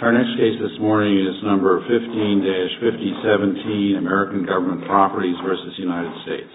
Our next case this morning is number 15-5017, American Government Properties v. United States. v. United States. v. United States. We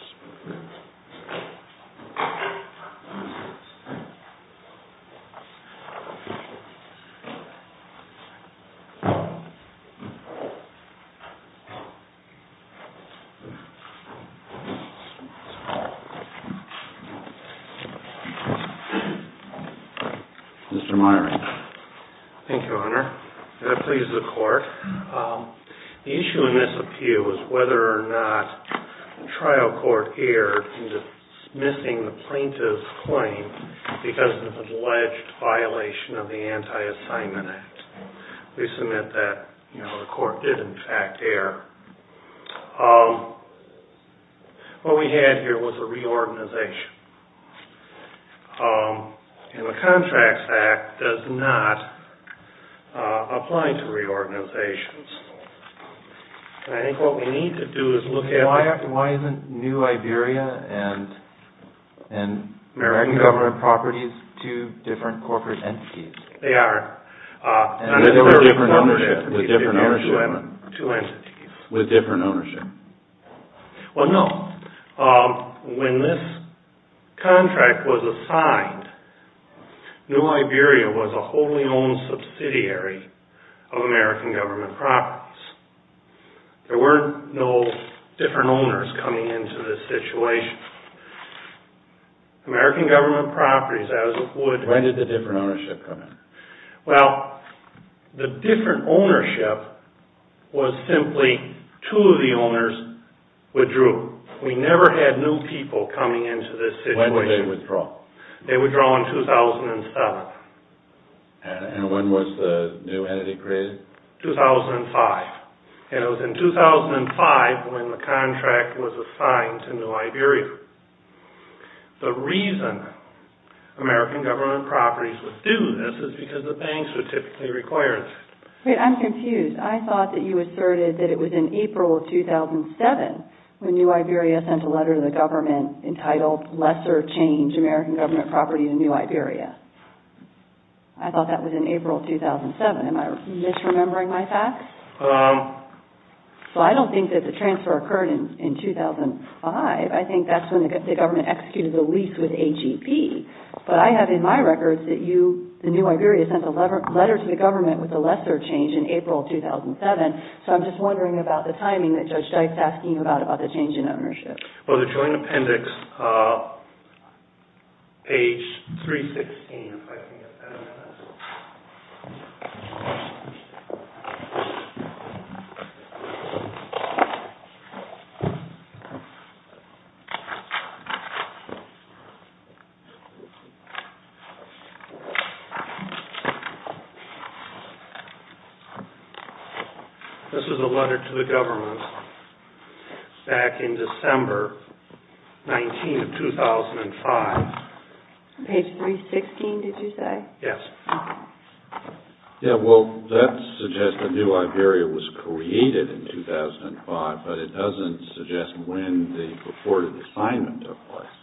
submit that the court did in fact err. What we had here was a reorganization. The Contracts Act does not apply to reorganizations. I think what we need to do is look at... Why isn't New Iberia and American Government Properties two different corporate entities? They are. And they were different ownership. With different ownership. Two entities. With different ownership. Well, no. When this contract was assigned, New Iberia was a wholly owned subsidiary of American Government Properties. There were no different owners coming into this situation. American Government Properties, as it would... When did the different ownership come in? Well, the different ownership was simply two of the owners withdrew. We never had new people coming into this situation. When did they withdraw? They withdrew in 2007. And when was the new entity created? 2005. And it was in 2005 when the contract was assigned to New Iberia. The reason American Government Properties withdrew this is because the banks were typically required. Wait, I'm confused. I thought that you asserted that it was in April 2007 when New Iberia sent a letter to the government entitled, Lesser Change, American Government Properties and New Iberia. I thought that was in April 2007. Am I misremembering my facts? So I don't think that the transfer occurred in 2005. I think that's when the government executed the lease with AGP. But I have in my records that New Iberia sent a letter to the government with the Lesser Change in April 2007. So I'm just wondering about the timing that Judge Dykes asked you about, about the change in ownership. Well, the joint appendix, page 316, if I can get that. This is a letter to the government back in December 19 of 2005. Page 316, did you say? Yes. Yeah, well, that suggests that New Iberia was created in 2005, but it doesn't suggest when the reported assignment took place.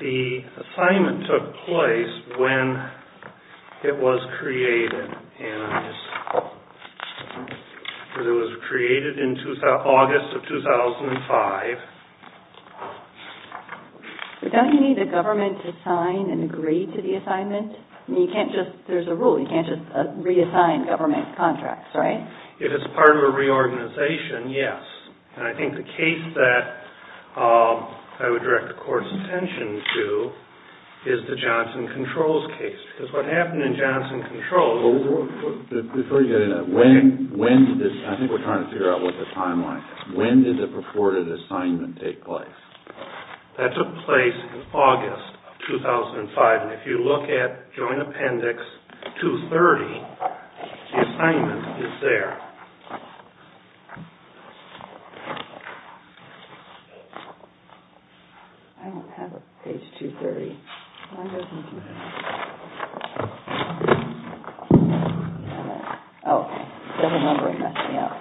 The assignment took place when it was created. And it was created in August of 2005. But don't you need the government to sign and agree to the assignment? I mean, you can't just, there's a rule, you can't just reassign government contracts, right? If it's part of a reorganization, yes. And I think the case that I would direct the Court's attention to is the Johnson Controls case. Because what happened in Johnson Controls... Before you get into that, when did this, I think we're trying to figure out what the timeline is. When did the reported assignment take place? That took place in August of 2005. And if you look at joint appendix 230, the assignment is there. I don't have it, page 230. 230. Oh, there's a number in there, yeah.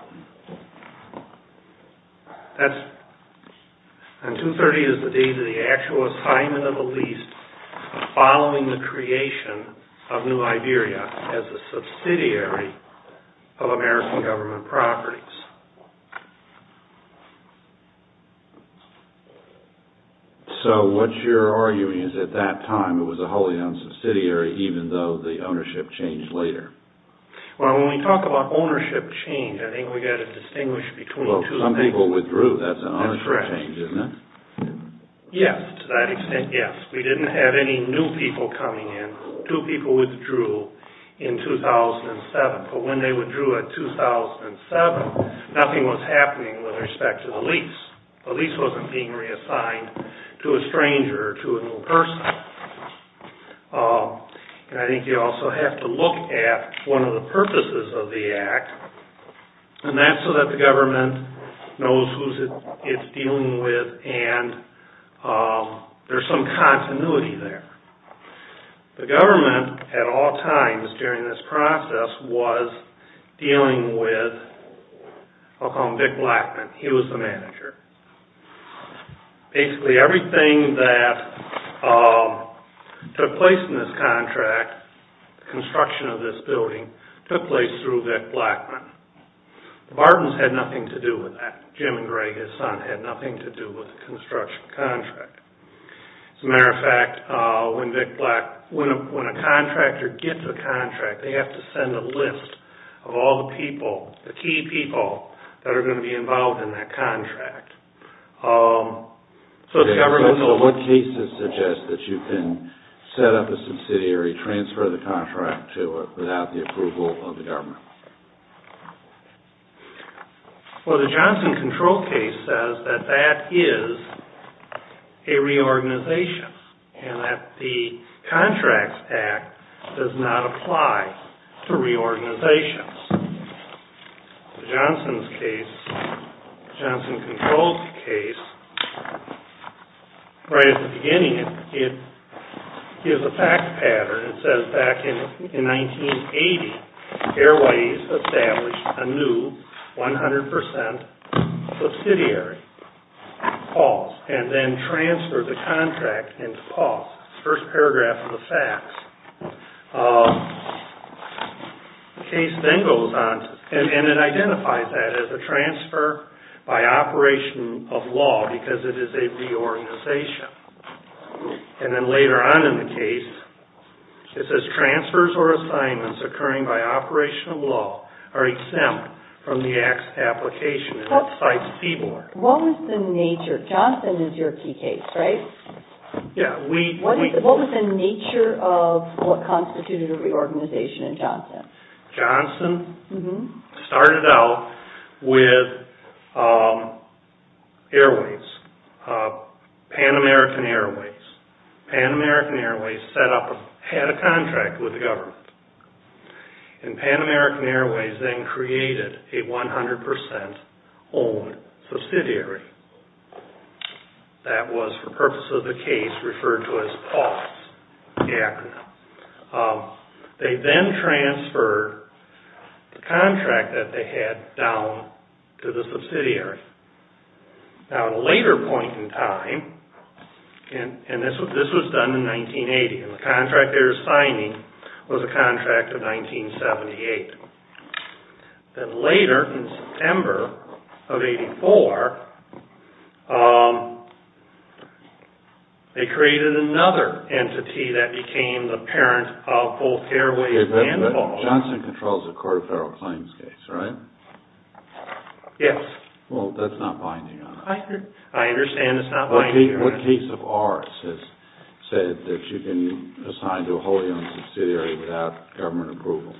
And 230 is the date of the actual assignment of the lease following the creation of New Iberia as a subsidiary of American government properties. So what you're arguing is at that time it was a wholly owned subsidiary, even though the ownership changed later. Well, when we talk about ownership change, I think we've got to distinguish between two things. Well, some people withdrew. That's an ownership change, isn't it? That's correct. Yes, to that extent, yes. We didn't have any new people coming in. Two people withdrew in 2007. But when they withdrew in 2007, nothing was happening with respect to the lease. The lease wasn't being reassigned to a stranger or to a new person. And I think you also have to look at one of the purposes of the Act, and that's so that the government knows who it's dealing with and there's some continuity there. The government at all times during this process was dealing with, I'll call him Vic Blackman. He was the manager. Basically everything that took place in this contract, construction of this building, took place through Vic Blackman. The Bartons had nothing to do with that. Jim and Greg, his son, had nothing to do with the construction contract. As a matter of fact, when a contractor gets a contract, they have to send a list of all the people, the key people, that are going to be involved in that contract. So what cases suggest that you can set up a subsidiary, transfer the contract to it without the approval of the government? Well, the Johnson Control case says that that is a reorganization and that the Contracts Act does not apply to reorganizations. Johnson's case, Johnson Control's case, right at the beginning it gives a fact pattern. It says back in 1980, Airways established a new 100% subsidiary, PAWS, and then transferred the contract into PAWS. First paragraph of the facts. The case then goes on, and it identifies that as a transfer by operation of law because it is a reorganization. And then later on in the case, it says transfers or assignments occurring by operation of law are exempt from the application, and it cites Seaborne. What was the nature, Johnson is your key case, right? Yeah. What was the nature of what constituted a reorganization in Johnson? Johnson started out with Airways, Pan American Airways. Pan American Airways set up, had a contract with the government. And Pan American Airways then created a 100% owned subsidiary. That was for purpose of the case referred to as PAWS, the acronym. They then transferred the contract that they had down to the subsidiary. Now at a later point in time, and this was done in 1980, and the contract they were signing was a contract of 1978. Then later, in September of 84, they created another entity that became the parent of both Airways and PAWS. Okay, but Johnson controls the Court of Federal Claims case, right? Yes. Well, that's not binding on us. I understand it's not binding on us. What case of ours has said that you can assign to a wholly owned subsidiary without government approval?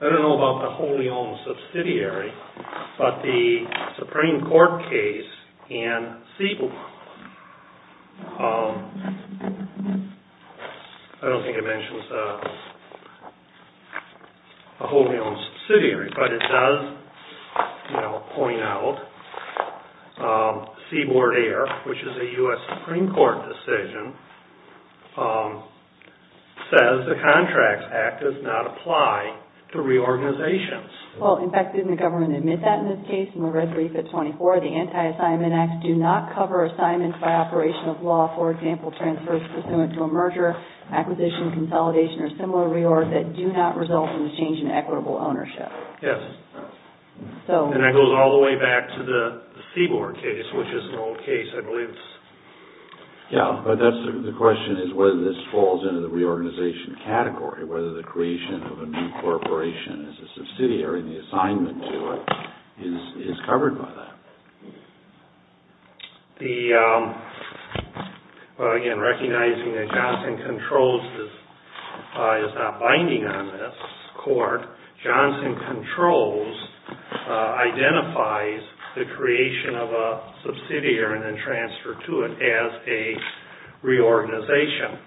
I don't know about the wholly owned subsidiary, but the Supreme Court case in Seaboard, I don't think it mentions a wholly owned subsidiary, but it does point out Seaboard Air, which is a US Supreme Court decision, says the Contracts Act does not apply to reorganizations. Well, in fact, didn't the government admit that in this case in the red brief at 24? The Anti-Assignment Act do not cover assignments by operation of law, for example, transfers pursuant to a merger, acquisition, consolidation, or similar reorgs that do not result in a change in equitable ownership. Yes. And that goes all the way back to the Seaboard case, which is an old case, I believe. Yes, but the question is whether this falls into the reorganization category, whether the creation of a new corporation as a subsidiary and the assignment to it is covered by that. Well, again, recognizing that Johnson Controls is not binding on this court, Johnson Controls identifies the creation of a subsidiary and then transfer to it as a reorganization.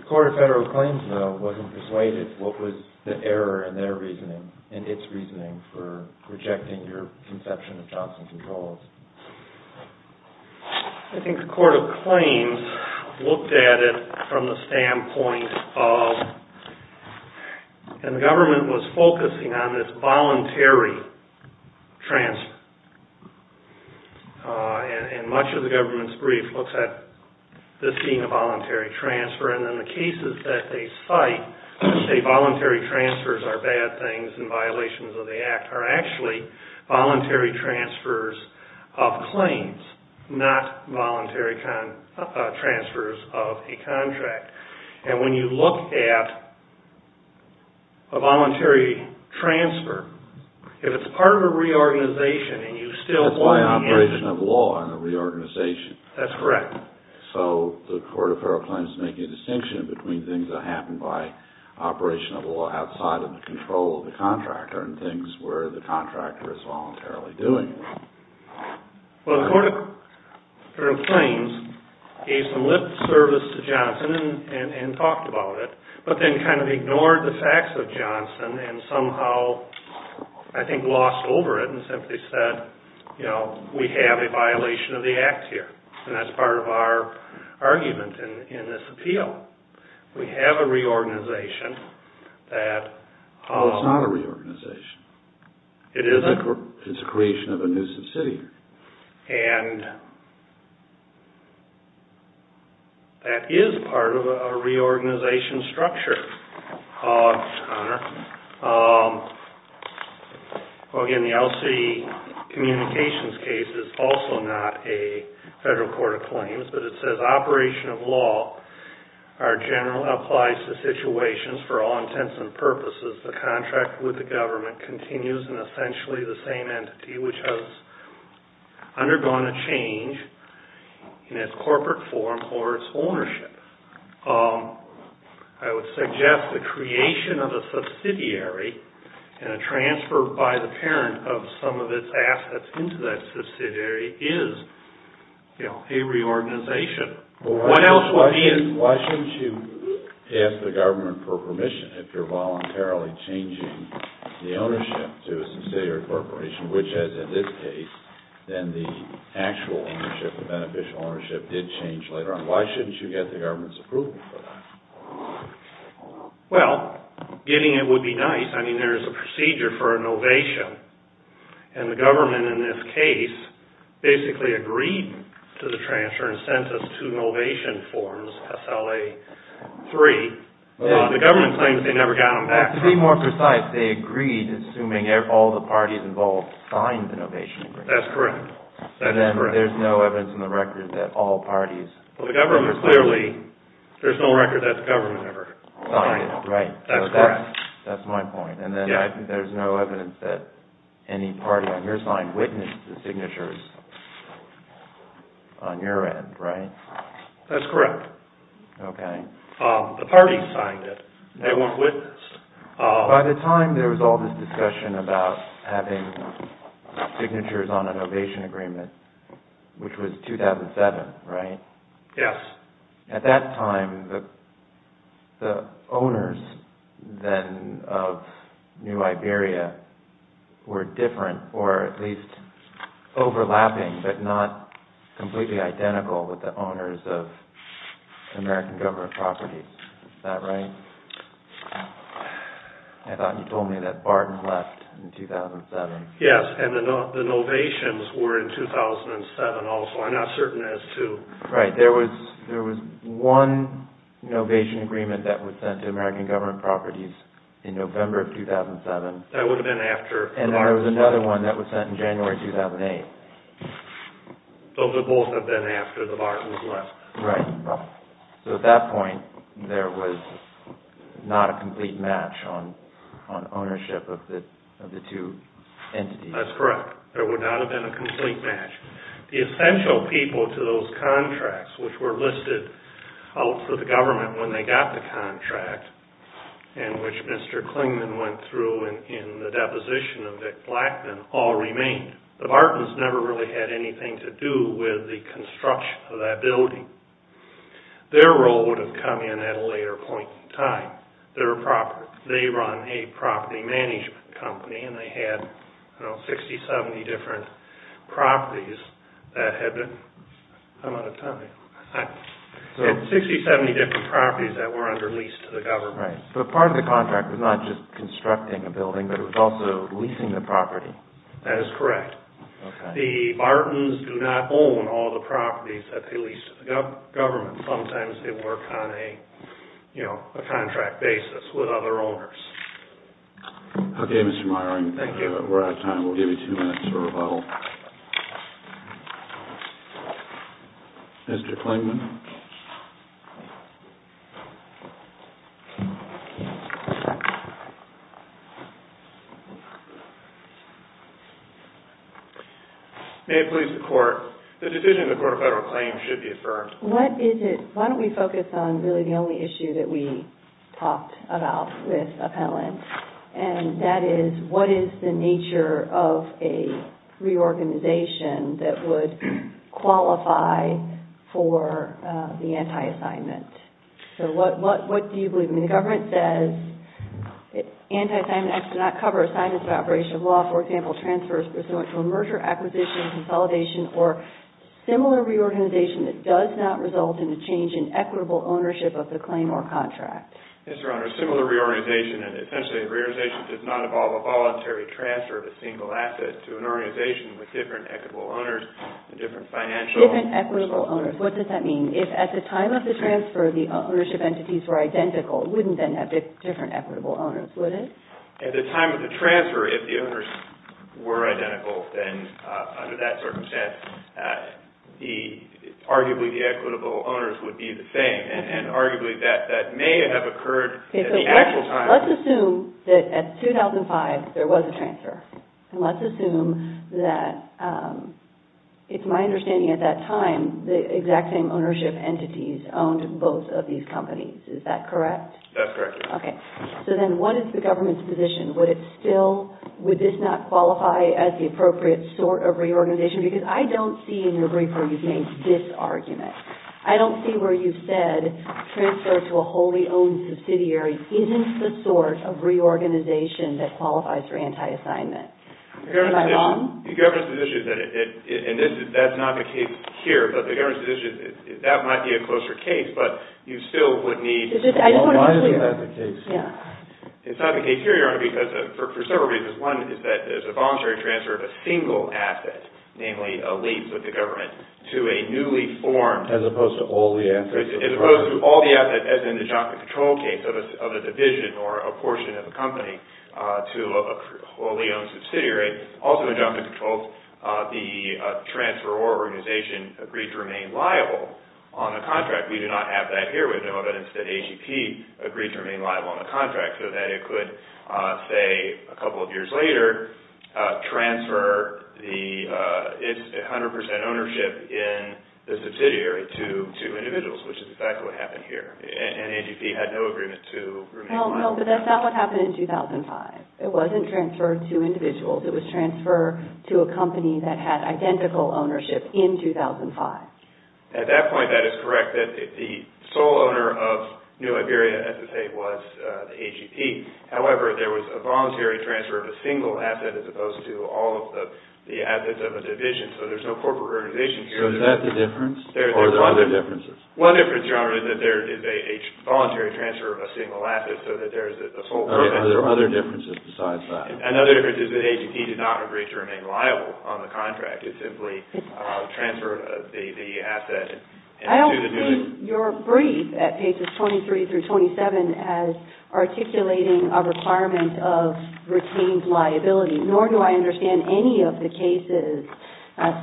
The Court of Federal Claims, though, wasn't persuaded. What was the error in their reasoning, in its reasoning, for rejecting your conception of Johnson Controls? I think the Court of Claims looked at it from the standpoint of and the government was focusing on this voluntary transfer. And much of the government's brief looks at this being a voluntary transfer. And in the cases that they cite, they say voluntary transfers are bad things and violations of the Act are actually voluntary transfers of claims, not voluntary transfers of a contract. And when you look at a voluntary transfer, if it's part of a reorganization and you still... That's why operation of law and a reorganization. That's correct. So the Court of Federal Claims is making a distinction between things that happen by operation of law outside of the control of the contractor and things where the contractor is voluntarily doing it. Well, the Court of Federal Claims gave some lit service to Johnson and talked about it, but then kind of ignored the facts of Johnson and somehow, I think, lost over it and simply said, you know, we have a violation of the Act here. And that's part of our argument in this appeal. We have a reorganization that... Well, it's not a reorganization. It isn't? It's a creation of a nuisance city. And that is part of a reorganization structure, Mr. Conner. Well, again, the LC communications case is also not a Federal Court of Claims, but it says operation of law applies to situations for all intents and purposes. The contract with the government continues in essentially the same entity, which has undergone a change in its corporate form or its ownership. I would suggest the creation of a subsidiary and a transfer by the parent of some of its assets into that subsidiary is, you know, a reorganization. Why shouldn't you ask the government for permission if you're voluntarily changing the ownership to a subsidiary corporation, which, as in this case, then the actual ownership, the beneficial ownership, did change later on? Why shouldn't you get the government's approval for that? Well, getting it would be nice. I mean, there is a procedure for an ovation, and the government in this case basically agreed to the transfer and sent us two ovation forms, SLA-3. The government claims they never got them back. To be more precise, they agreed assuming all the parties involved signed the ovation agreement. That's correct. And then there's no evidence in the record that all parties... Well, the government clearly, there's no record that the government ever signed it. Right. That's correct. That's my point. And then there's no evidence that any party on your side witnessed the signatures on your end, right? That's correct. Okay. The parties signed it. They weren't witnessed. By the time there was all this discussion about having signatures on an ovation agreement, which was 2007, right? Yes. At that time, the owners then of New Iberia were different, or at least overlapping, but not completely identical with the owners of American government properties. Is that right? I thought you told me that Barton left in 2007. Yes, and the ovations were in 2007 also. I'm not certain as to... Right. There was one ovation agreement that was sent to American government properties in November of 2007. That would have been after... And then there was another one that was sent in January 2008. Those would both have been after the Bartons left. Right. So at that point, there was not a complete match on ownership of the two entities. That's correct. There would not have been a complete match. The essential people to those contracts, which were listed out for the government when they got the contract, and which Mr. Klingman went through in the deposition of Vic Blackman, all remained. The Bartons never really had anything to do with the construction of that building. Their role would have come in at a later point in time. They run a property management company, and they had 60, 70 different properties that were under lease to the government. Right. But part of the contract was not just constructing a building, but it was also leasing the property. That is correct. The Bartons do not own all the properties that they lease to the government. Sometimes they work on a contract basis with other owners. Okay, Mr. Meyering. Thank you. We're out of time. We'll give you two minutes for rebuttal. Mr. Klingman. May it please the Court, the decision of the Court of Federal Claims should be affirmed. What is it? Why don't we focus on really the only issue that we talked about with appellants, and that is what is the nature of a reorganization that would qualify for the anti-assignment? So what do you believe? I mean, the government says anti-assignment acts do not cover assignments of operation of law. For example, transfers pursuant to a merger, acquisition, consolidation, or similar reorganization that does not result in a change in equitable ownership of the claim or contract? Yes, Your Honor. Similar reorganization, and essentially a reorganization does not involve a voluntary transfer of a single asset to an organization with different equitable owners and different financial— Different equitable owners. What does that mean? If at the time of the transfer, the ownership entities were identical, it wouldn't then have different equitable owners, would it? At the time of the transfer, if the owners were identical, then under that circumstance, arguably the equitable owners would be the same, and arguably that may have occurred at the actual time. Let's assume that at 2005 there was a transfer, and let's assume that it's my understanding at that time the exact same ownership entities owned both of these companies. Is that correct? That's correct, Your Honor. Okay. So then what is the government's position? Would it still—would this not qualify as the appropriate sort of reorganization? Because I don't see in your brief where you've made this argument. I don't see where you've said transfer to a wholly owned subsidiary isn't the sort of reorganization that qualifies for anti-assignment. My mom? The government's position is that it—and that's not the case here, but the government's position is that that might be a closer case, but you still would need— Well, why isn't that the case? Yeah. It's not the case here, Your Honor, because for several reasons. One is that there's a voluntary transfer of a single asset, namely a lease with the government, to a newly formed— As opposed to all the assets— As opposed to all the assets, as in the job control case, of a division or a portion of a company to a wholly owned subsidiary. Also in job control, the transferor organization agreed to remain liable on a contract. We do not have that here. We know that AGP agreed to remain liable on a contract so that it could, say, a couple of years later, transfer its 100 percent ownership in the subsidiary to individuals, which is exactly what happened here. And AGP had no agreement to remain liable. No, but that's not what happened in 2005. It wasn't transferred to individuals. It was transferred to a company that had identical ownership in 2005. At that point, that is correct, that the sole owner of New Iberia, as you say, was AGP. However, there was a voluntary transfer of a single asset as opposed to all of the assets of a division. So there's no corporate organization here. So is that the difference? Or are there other differences? One difference, Your Honor, is that there is a voluntary transfer of a single asset so that there is a sole— Are there other differences besides that? Another difference is that AGP did not agree to remain liable on the contract. It simply transferred the asset. I don't see your brief at pages 23 through 27 as articulating a requirement of retained liability, nor do I understand any of the cases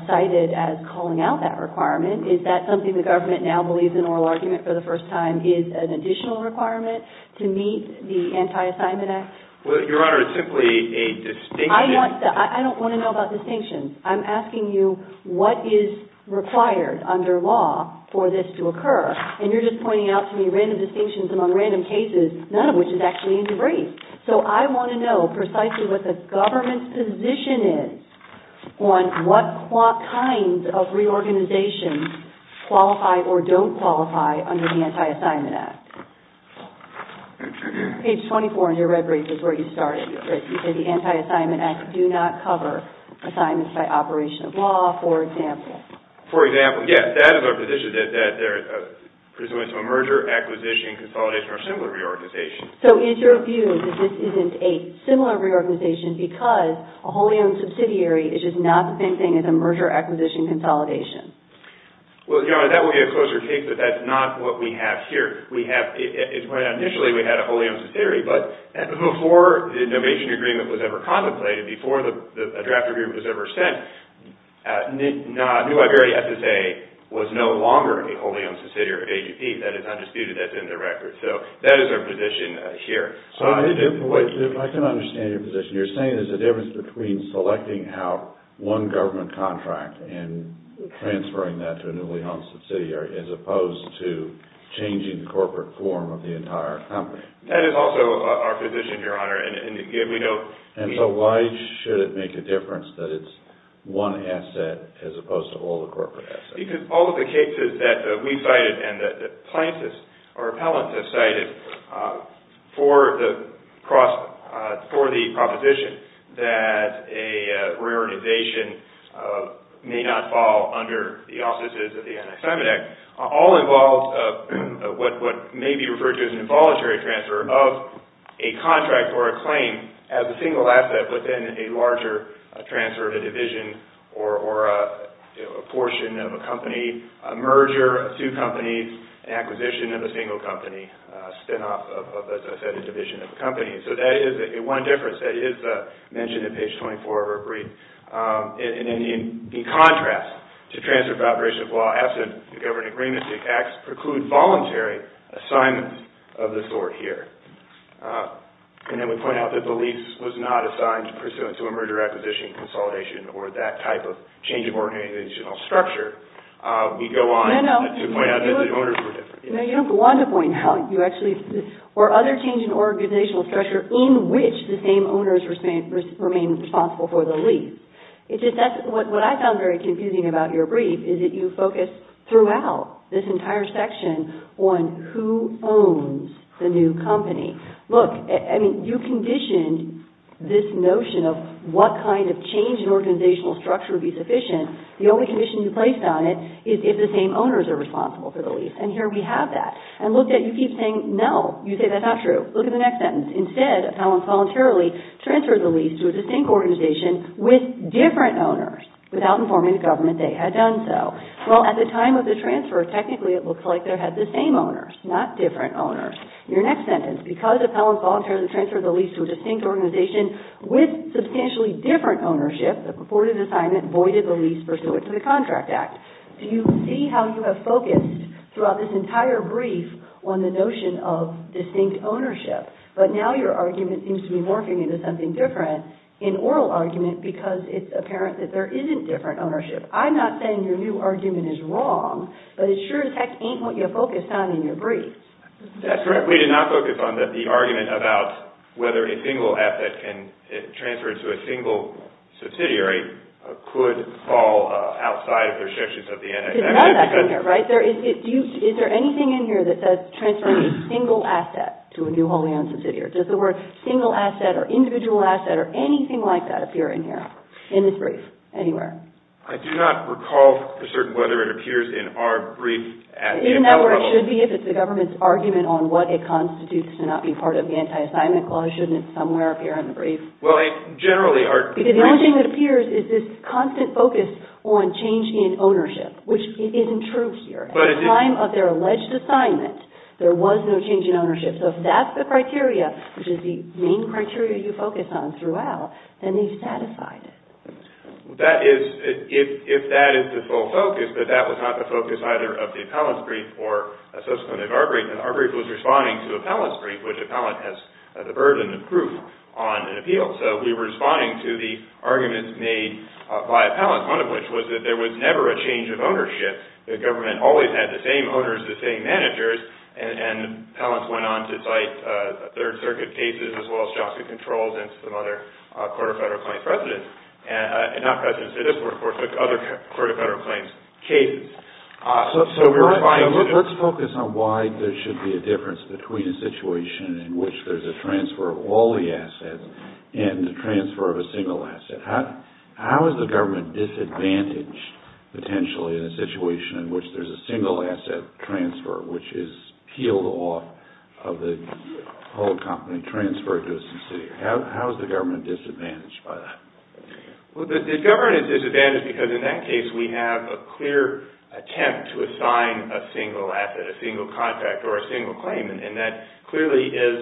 cited as calling out that requirement. Is that something the government now believes in oral argument for the first time is an additional requirement to meet the Anti-Assignment Act? Well, Your Honor, it's simply a distinction. I don't want to know about distinctions. I'm asking you what is required under law for this to occur, and you're just pointing out to me random distinctions among random cases, none of which is actually in the brief. So I want to know precisely what the government's position is on what kinds of reorganizations qualify or don't qualify under the Anti-Assignment Act. Page 24 in your red brief is where you started. You said the Anti-Assignment Act do not cover assignments by operation of law, for example. For example, yes. That is our position, that they're pursuant to a merger, acquisition, consolidation, or similar reorganization. So is your view that this isn't a similar reorganization because a wholly owned subsidiary is just not the same thing as a merger, acquisition, consolidation? Well, Your Honor, that would be a closer case, but that's not what we have here. Initially, we had a wholly owned subsidiary, but before the innovation agreement was ever contemplated, before a draft agreement was ever sent, New Iberia SSA was no longer a wholly owned subsidiary of AGP. That is undisputed. That's in the record. So that is our position here. I can understand your position. You're saying there's a difference between selecting out one government contract and transferring that to a newly owned subsidiary as opposed to changing the corporate form of the entire company. That is also our position, Your Honor. And so why should it make a difference that it's one asset as opposed to all the corporate assets? Because all of the cases that we've cited and that plaintiffs or appellants have cited for the proposition that a reorganization may not fall under the auspices of the Anti-Semite Act all involve what may be referred to as an involuntary transfer of a contract or a claim as a single asset within a larger transfer to division or a portion of a company, a merger of two companies, an acquisition of a single company, a spinoff of, as I said, a division of a company. So that is one difference that is mentioned in page 24 of our brief. And in contrast to transfer of operations of law absent the government agreement, the acts preclude voluntary assignments of this sort here. And then we point out that the lease was not assigned pursuant to a merger, acquisition, consolidation or that type of change of organizational structure. Let me go on to point out that the owners were different. No, you don't go on to point out. Or other change in organizational structure in which the same owners remain responsible for the lease. What I found very confusing about your brief is that you focused throughout this entire section on who owns the new company. Look, you conditioned this notion of what kind of change in organizational structure would be sufficient. The only condition you placed on it is if the same owners are responsible for the lease. And here we have that. And look, you keep saying no. You say that's not true. Look at the next sentence. Instead, appellants voluntarily transferred the lease to a distinct organization with different owners without informing the government they had done so. Well, at the time of the transfer, technically it looks like they had the same owners, not different owners. Your next sentence, because appellants voluntarily transferred the lease to a distinct organization with substantially different ownership, the purported assignment voided the lease pursuant to the Contract Act. Do you see how you have focused throughout this entire brief on the notion of distinct ownership? But now your argument seems to be morphing into something different in oral argument because it's apparent that there isn't different ownership. I'm not saying your new argument is wrong, but it sure as heck ain't what you focused on in your brief. That's correct. We did not focus on the argument about whether a single asset can transfer into a single subsidiary could fall outside of the restrictions of the NFA. There's none of that in here, right? Is there anything in here that says transferring a single asset to a new wholly owned subsidiary? Does the word single asset or individual asset or anything like that appear in here, in this brief, anywhere? I do not recall for certain whether it appears in our brief at the appellate level. It should be if it's the government's argument on what it constitutes to not be part of the Anti-Assignment Clause. Shouldn't it somewhere appear in the brief? Well, they generally are. Because the only thing that appears is this constant focus on change in ownership, which isn't true here. At the time of their alleged assignment, there was no change in ownership. So if that's the criteria, which is the main criteria you focus on throughout, then they've satisfied it. If that is the full focus, but that was not the focus either of the appellant's brief or a subsequent of our brief. And our brief was responding to the appellant's brief, which the appellant has the burden of proof on an appeal. So we were responding to the arguments made by appellants, one of which was that there was never a change of ownership. The government always had the same owners, the same managers. And appellants went on to cite Third Circuit cases, as well as Joplin Controls and some other court of federal claims cases. So let's focus on why there should be a difference between a situation in which there's a transfer of all the assets and the transfer of a single asset. How is the government disadvantaged, potentially, in a situation in which there's a single asset transfer, which is peeled off of the whole company and transferred to a subsidiary? How is the government disadvantaged by that? Well, the government is disadvantaged because, in that case, we have a clear attempt to assign a single asset, a single contract, or a single claim. And that clearly is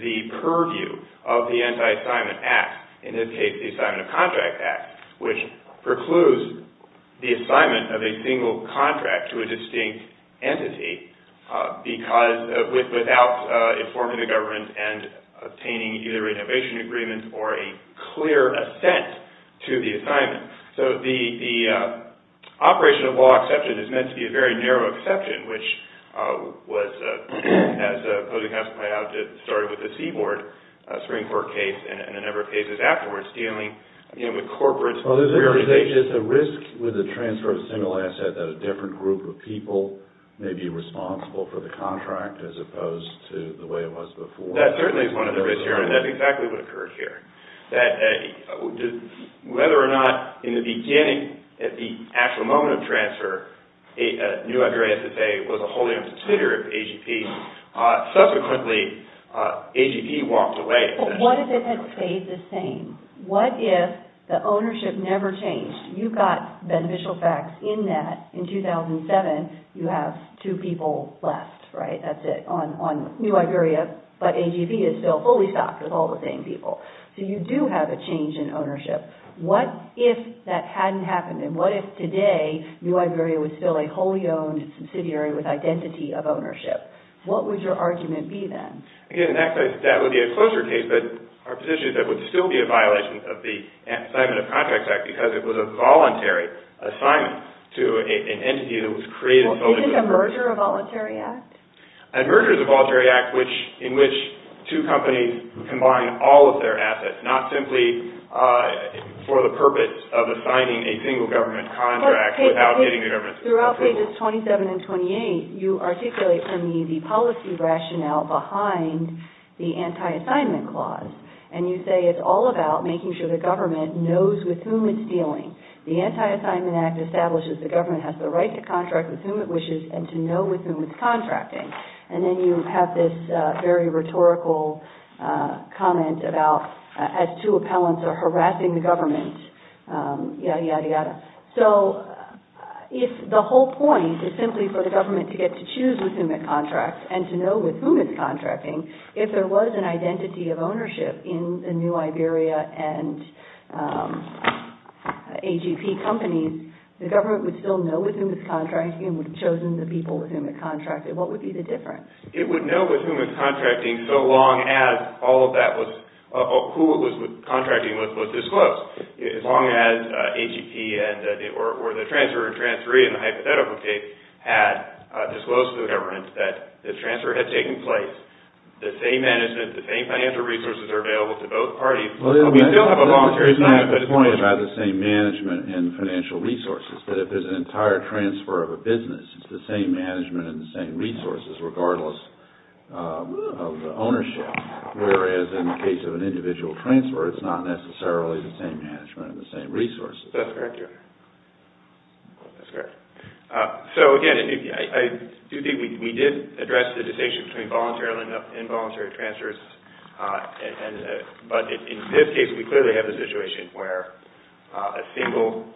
the purview of the Anti-Assignment Act, in this case, the Assignment of Contract Act, which precludes the assignment of a single contract to a distinct entity without informing the government and obtaining either renovation agreements or a clear assent to the assignment. So the operation of law exception is meant to be a very narrow exception, which was, as Posey-Huntsman pointed out, started with the Seaboard Supreme Court case and a number of cases afterwards, dealing with corporate... Well, is there a risk with the transfer of a single asset that a different group of people may be responsible for the contract, as opposed to the way it was before? That certainly is one of the risks here, and that's exactly what occurred here. Whether or not, in the beginning, at the actual moment of transfer, New Iberia was a wholly-owned subsidiary of AGP. Subsequently, AGP walked away... But what if it had stayed the same? What if the ownership never changed? You've got beneficial facts in that, in 2007, you have two people left, right? That's it, on New Iberia, but AGP is still fully stocked with all the same people. So you do have a change in ownership. What if that hadn't happened, and what if today New Iberia was still a wholly-owned subsidiary with identity of ownership? What would your argument be then? Again, actually, that would be a closer case, but our position is that it would still be a violation of the Assignment of Contracts Act because it was a voluntary assignment to an entity that was created... Well, isn't a merger a voluntary act? A merger is a voluntary act in which two companies combine all of their assets, not simply for the purpose of assigning a single government contract without getting the government's approval. Throughout pages 27 and 28, you articulate for me the policy rationale behind the Anti-Assignment Clause, and you say it's all about making sure the government knows with whom it's dealing. The Anti-Assignment Act establishes the government has the right to contract with whom it wishes and to know with whom it's contracting. And then you have this very rhetorical comment about as two appellants are harassing the government, yada, yada, yada. So if the whole point is simply for the government to get to choose with whom it contracts and to know with whom it's contracting, if there was an identity of ownership in the new Iberia and AGP companies, the government would still know with whom it's contracting and would have chosen the people with whom it contracted. What would be the difference? It would know with whom it's contracting so long as who it was contracting with was disclosed. As long as AGP or the transfer and transferee in the hypothetical case had disclosed to the government that the transfer had taken place, the same management, the same financial resources are available to both parties. We don't have a monetary standard, but it's possible. The point about the same management and financial resources is that if there's an entire transfer of a business, it's the same management and the same resources regardless of the ownership. Whereas in the case of an individual transfer, it's not necessarily the same management and the same resources. That's correct. So again, I do think we did address the distinction between voluntary and involuntary transfers, but in this case we clearly have a situation where a single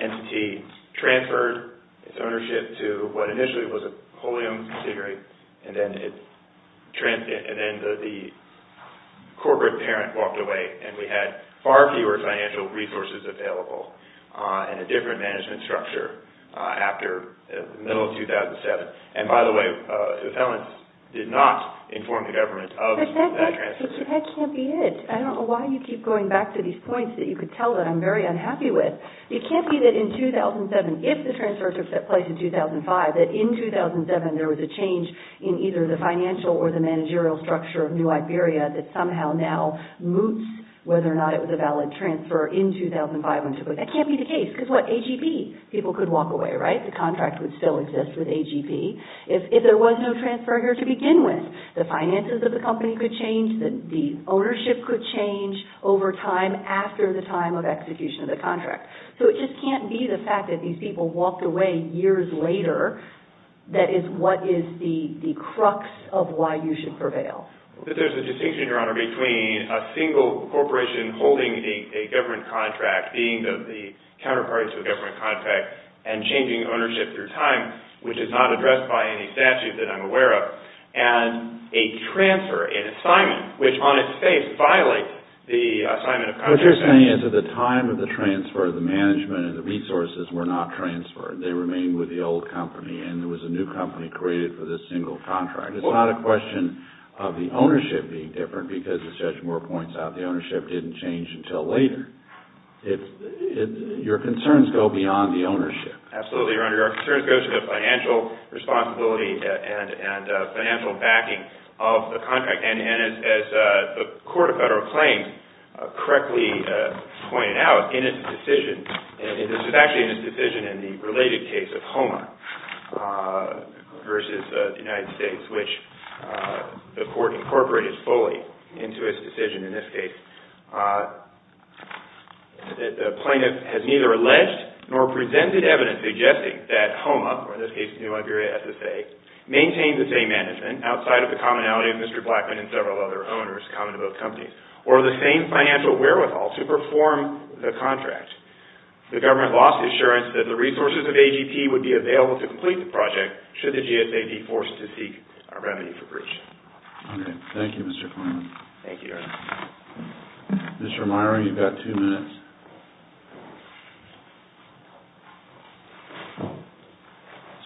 entity transferred its ownership to what initially was a wholly owned considerate and then the corporate parent walked away and we had far fewer financial resources available and a different management structure after the middle of 2007. And by the way, the felons did not inform the government of that transfer. But that can't be it. I don't know why you keep going back to these points that you could tell that I'm very unhappy with. It can't be that in 2007, if the transfer took place in 2005, that in 2007 there was a change in either the financial or the managerial structure of New Iberia that somehow now moots whether or not it was a valid transfer in 2005. That can't be the case. Because what? AGP. People could walk away, right? The contract would still exist with AGP. If there was no transfer here to begin with, the finances of the company could change, the ownership could change over time after the time of execution of the contract. So it just can't be the fact that these people walked away years later that is what is the crux of why you should prevail. There's a distinction, Your Honor, between a single corporation holding a government contract being the counterparty to a government contract and changing ownership through time, which is not addressed by any statute that I'm aware of, and a transfer, an assignment, which on its face violates the assignment of contracts. What you're saying is that at the time of the transfer, the management and the resources were not transferred. They remained with the old company and there was a new company created for this single contract. It's not a question of the ownership being different because, as Judge Moore points out, the ownership didn't change until later. Your concerns go beyond the ownership. Absolutely, Your Honor. Your concerns go to the financial responsibility and financial backing of the contract. And as the Court of Federal Claims correctly pointed out in its decision, and this is actually in its decision in the related case of HOMA versus the United States, which the Court incorporated fully into its decision in this case, the plaintiff has neither alleged nor presented evidence suggesting that HOMA, or in this case, New Liberia SSA, maintained the same management outside of the commonality of Mr. Blackman and several other owners common to both companies, or the same financial wherewithal to perform the contract. The government lost assurance that the resources of AGP would be available to complete the project should the GSA be forced to seek a remedy for breach. Thank you, Mr. Klineman. Thank you, Your Honor. Mr. Meier, you've got two minutes.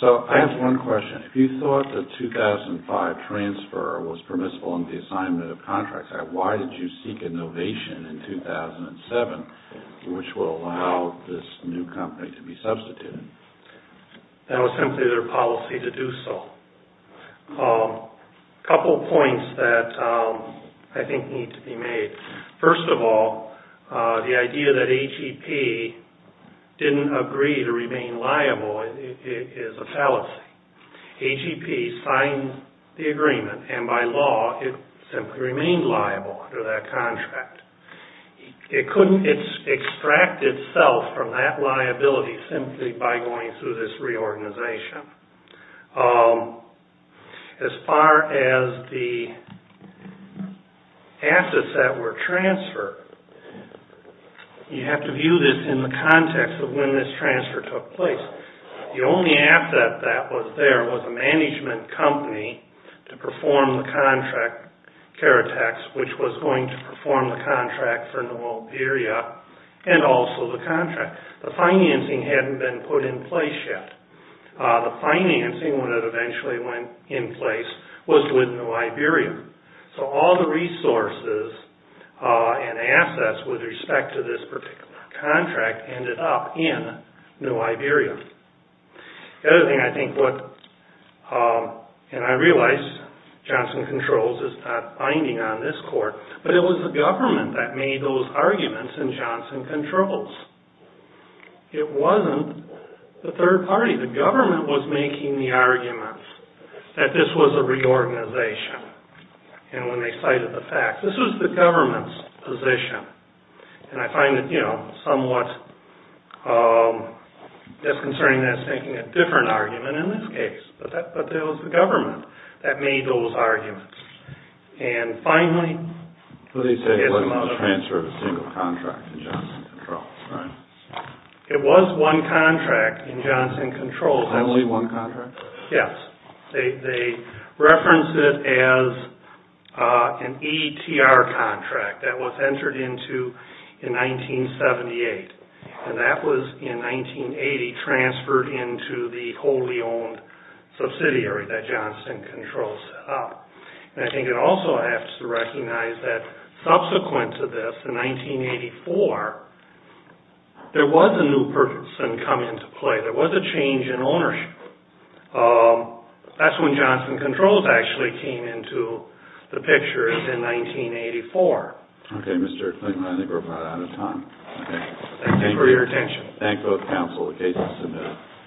So, I have one question. If you thought the 2005 transfer was permissible under the assignment of contracts, why did you seek innovation in 2007, which would allow this new company to be substituted? That was simply their policy to do so. A couple points that I think need to be made. First of all, the idea that AGP didn't agree to remain liable is a fallacy. AGP signed the agreement, and by law, it simply remained liable under that contract. It couldn't extract itself from that liability simply by going through this reorganization. As far as the assets that were transferred, you have to view this in the context of when this transfer took place. The only asset that was there was a management company to perform the contract care attacks, which was going to perform the contract for Novoberia and also the contract. The financing hadn't been put in place yet. The financing, when it eventually went in place, was with Novoberia. So, all the resources and assets with respect to this particular contract ended up in Novoberia. The other thing I think, and I realize Johnson Controls is not binding on this court, but it was the government that made those arguments in Johnson Controls. It wasn't the third party. The government was making the argument that this was a reorganization. And when they cited the fact, this was the government's position. And I find it somewhat disconcerting that it's making a different argument in this case. And finally... They say it wasn't a transfer of a single contract in Johnson Controls, right? It was one contract in Johnson Controls. Only one contract? Yes. They reference it as an ETR contract that was entered into in 1978. And that was, in 1980, transferred into the wholly owned subsidiary that Johnson Controls set up. And I think it also has to recognize that, subsequent to this, in 1984, there was a new person come into play. There was a change in ownership. That's when Johnson Controls actually came into the picture, is in 1984. Okay, Mr. Klingler, I think we're about out of time. Thank you for your attention. Thank both counsel. The case is submitted.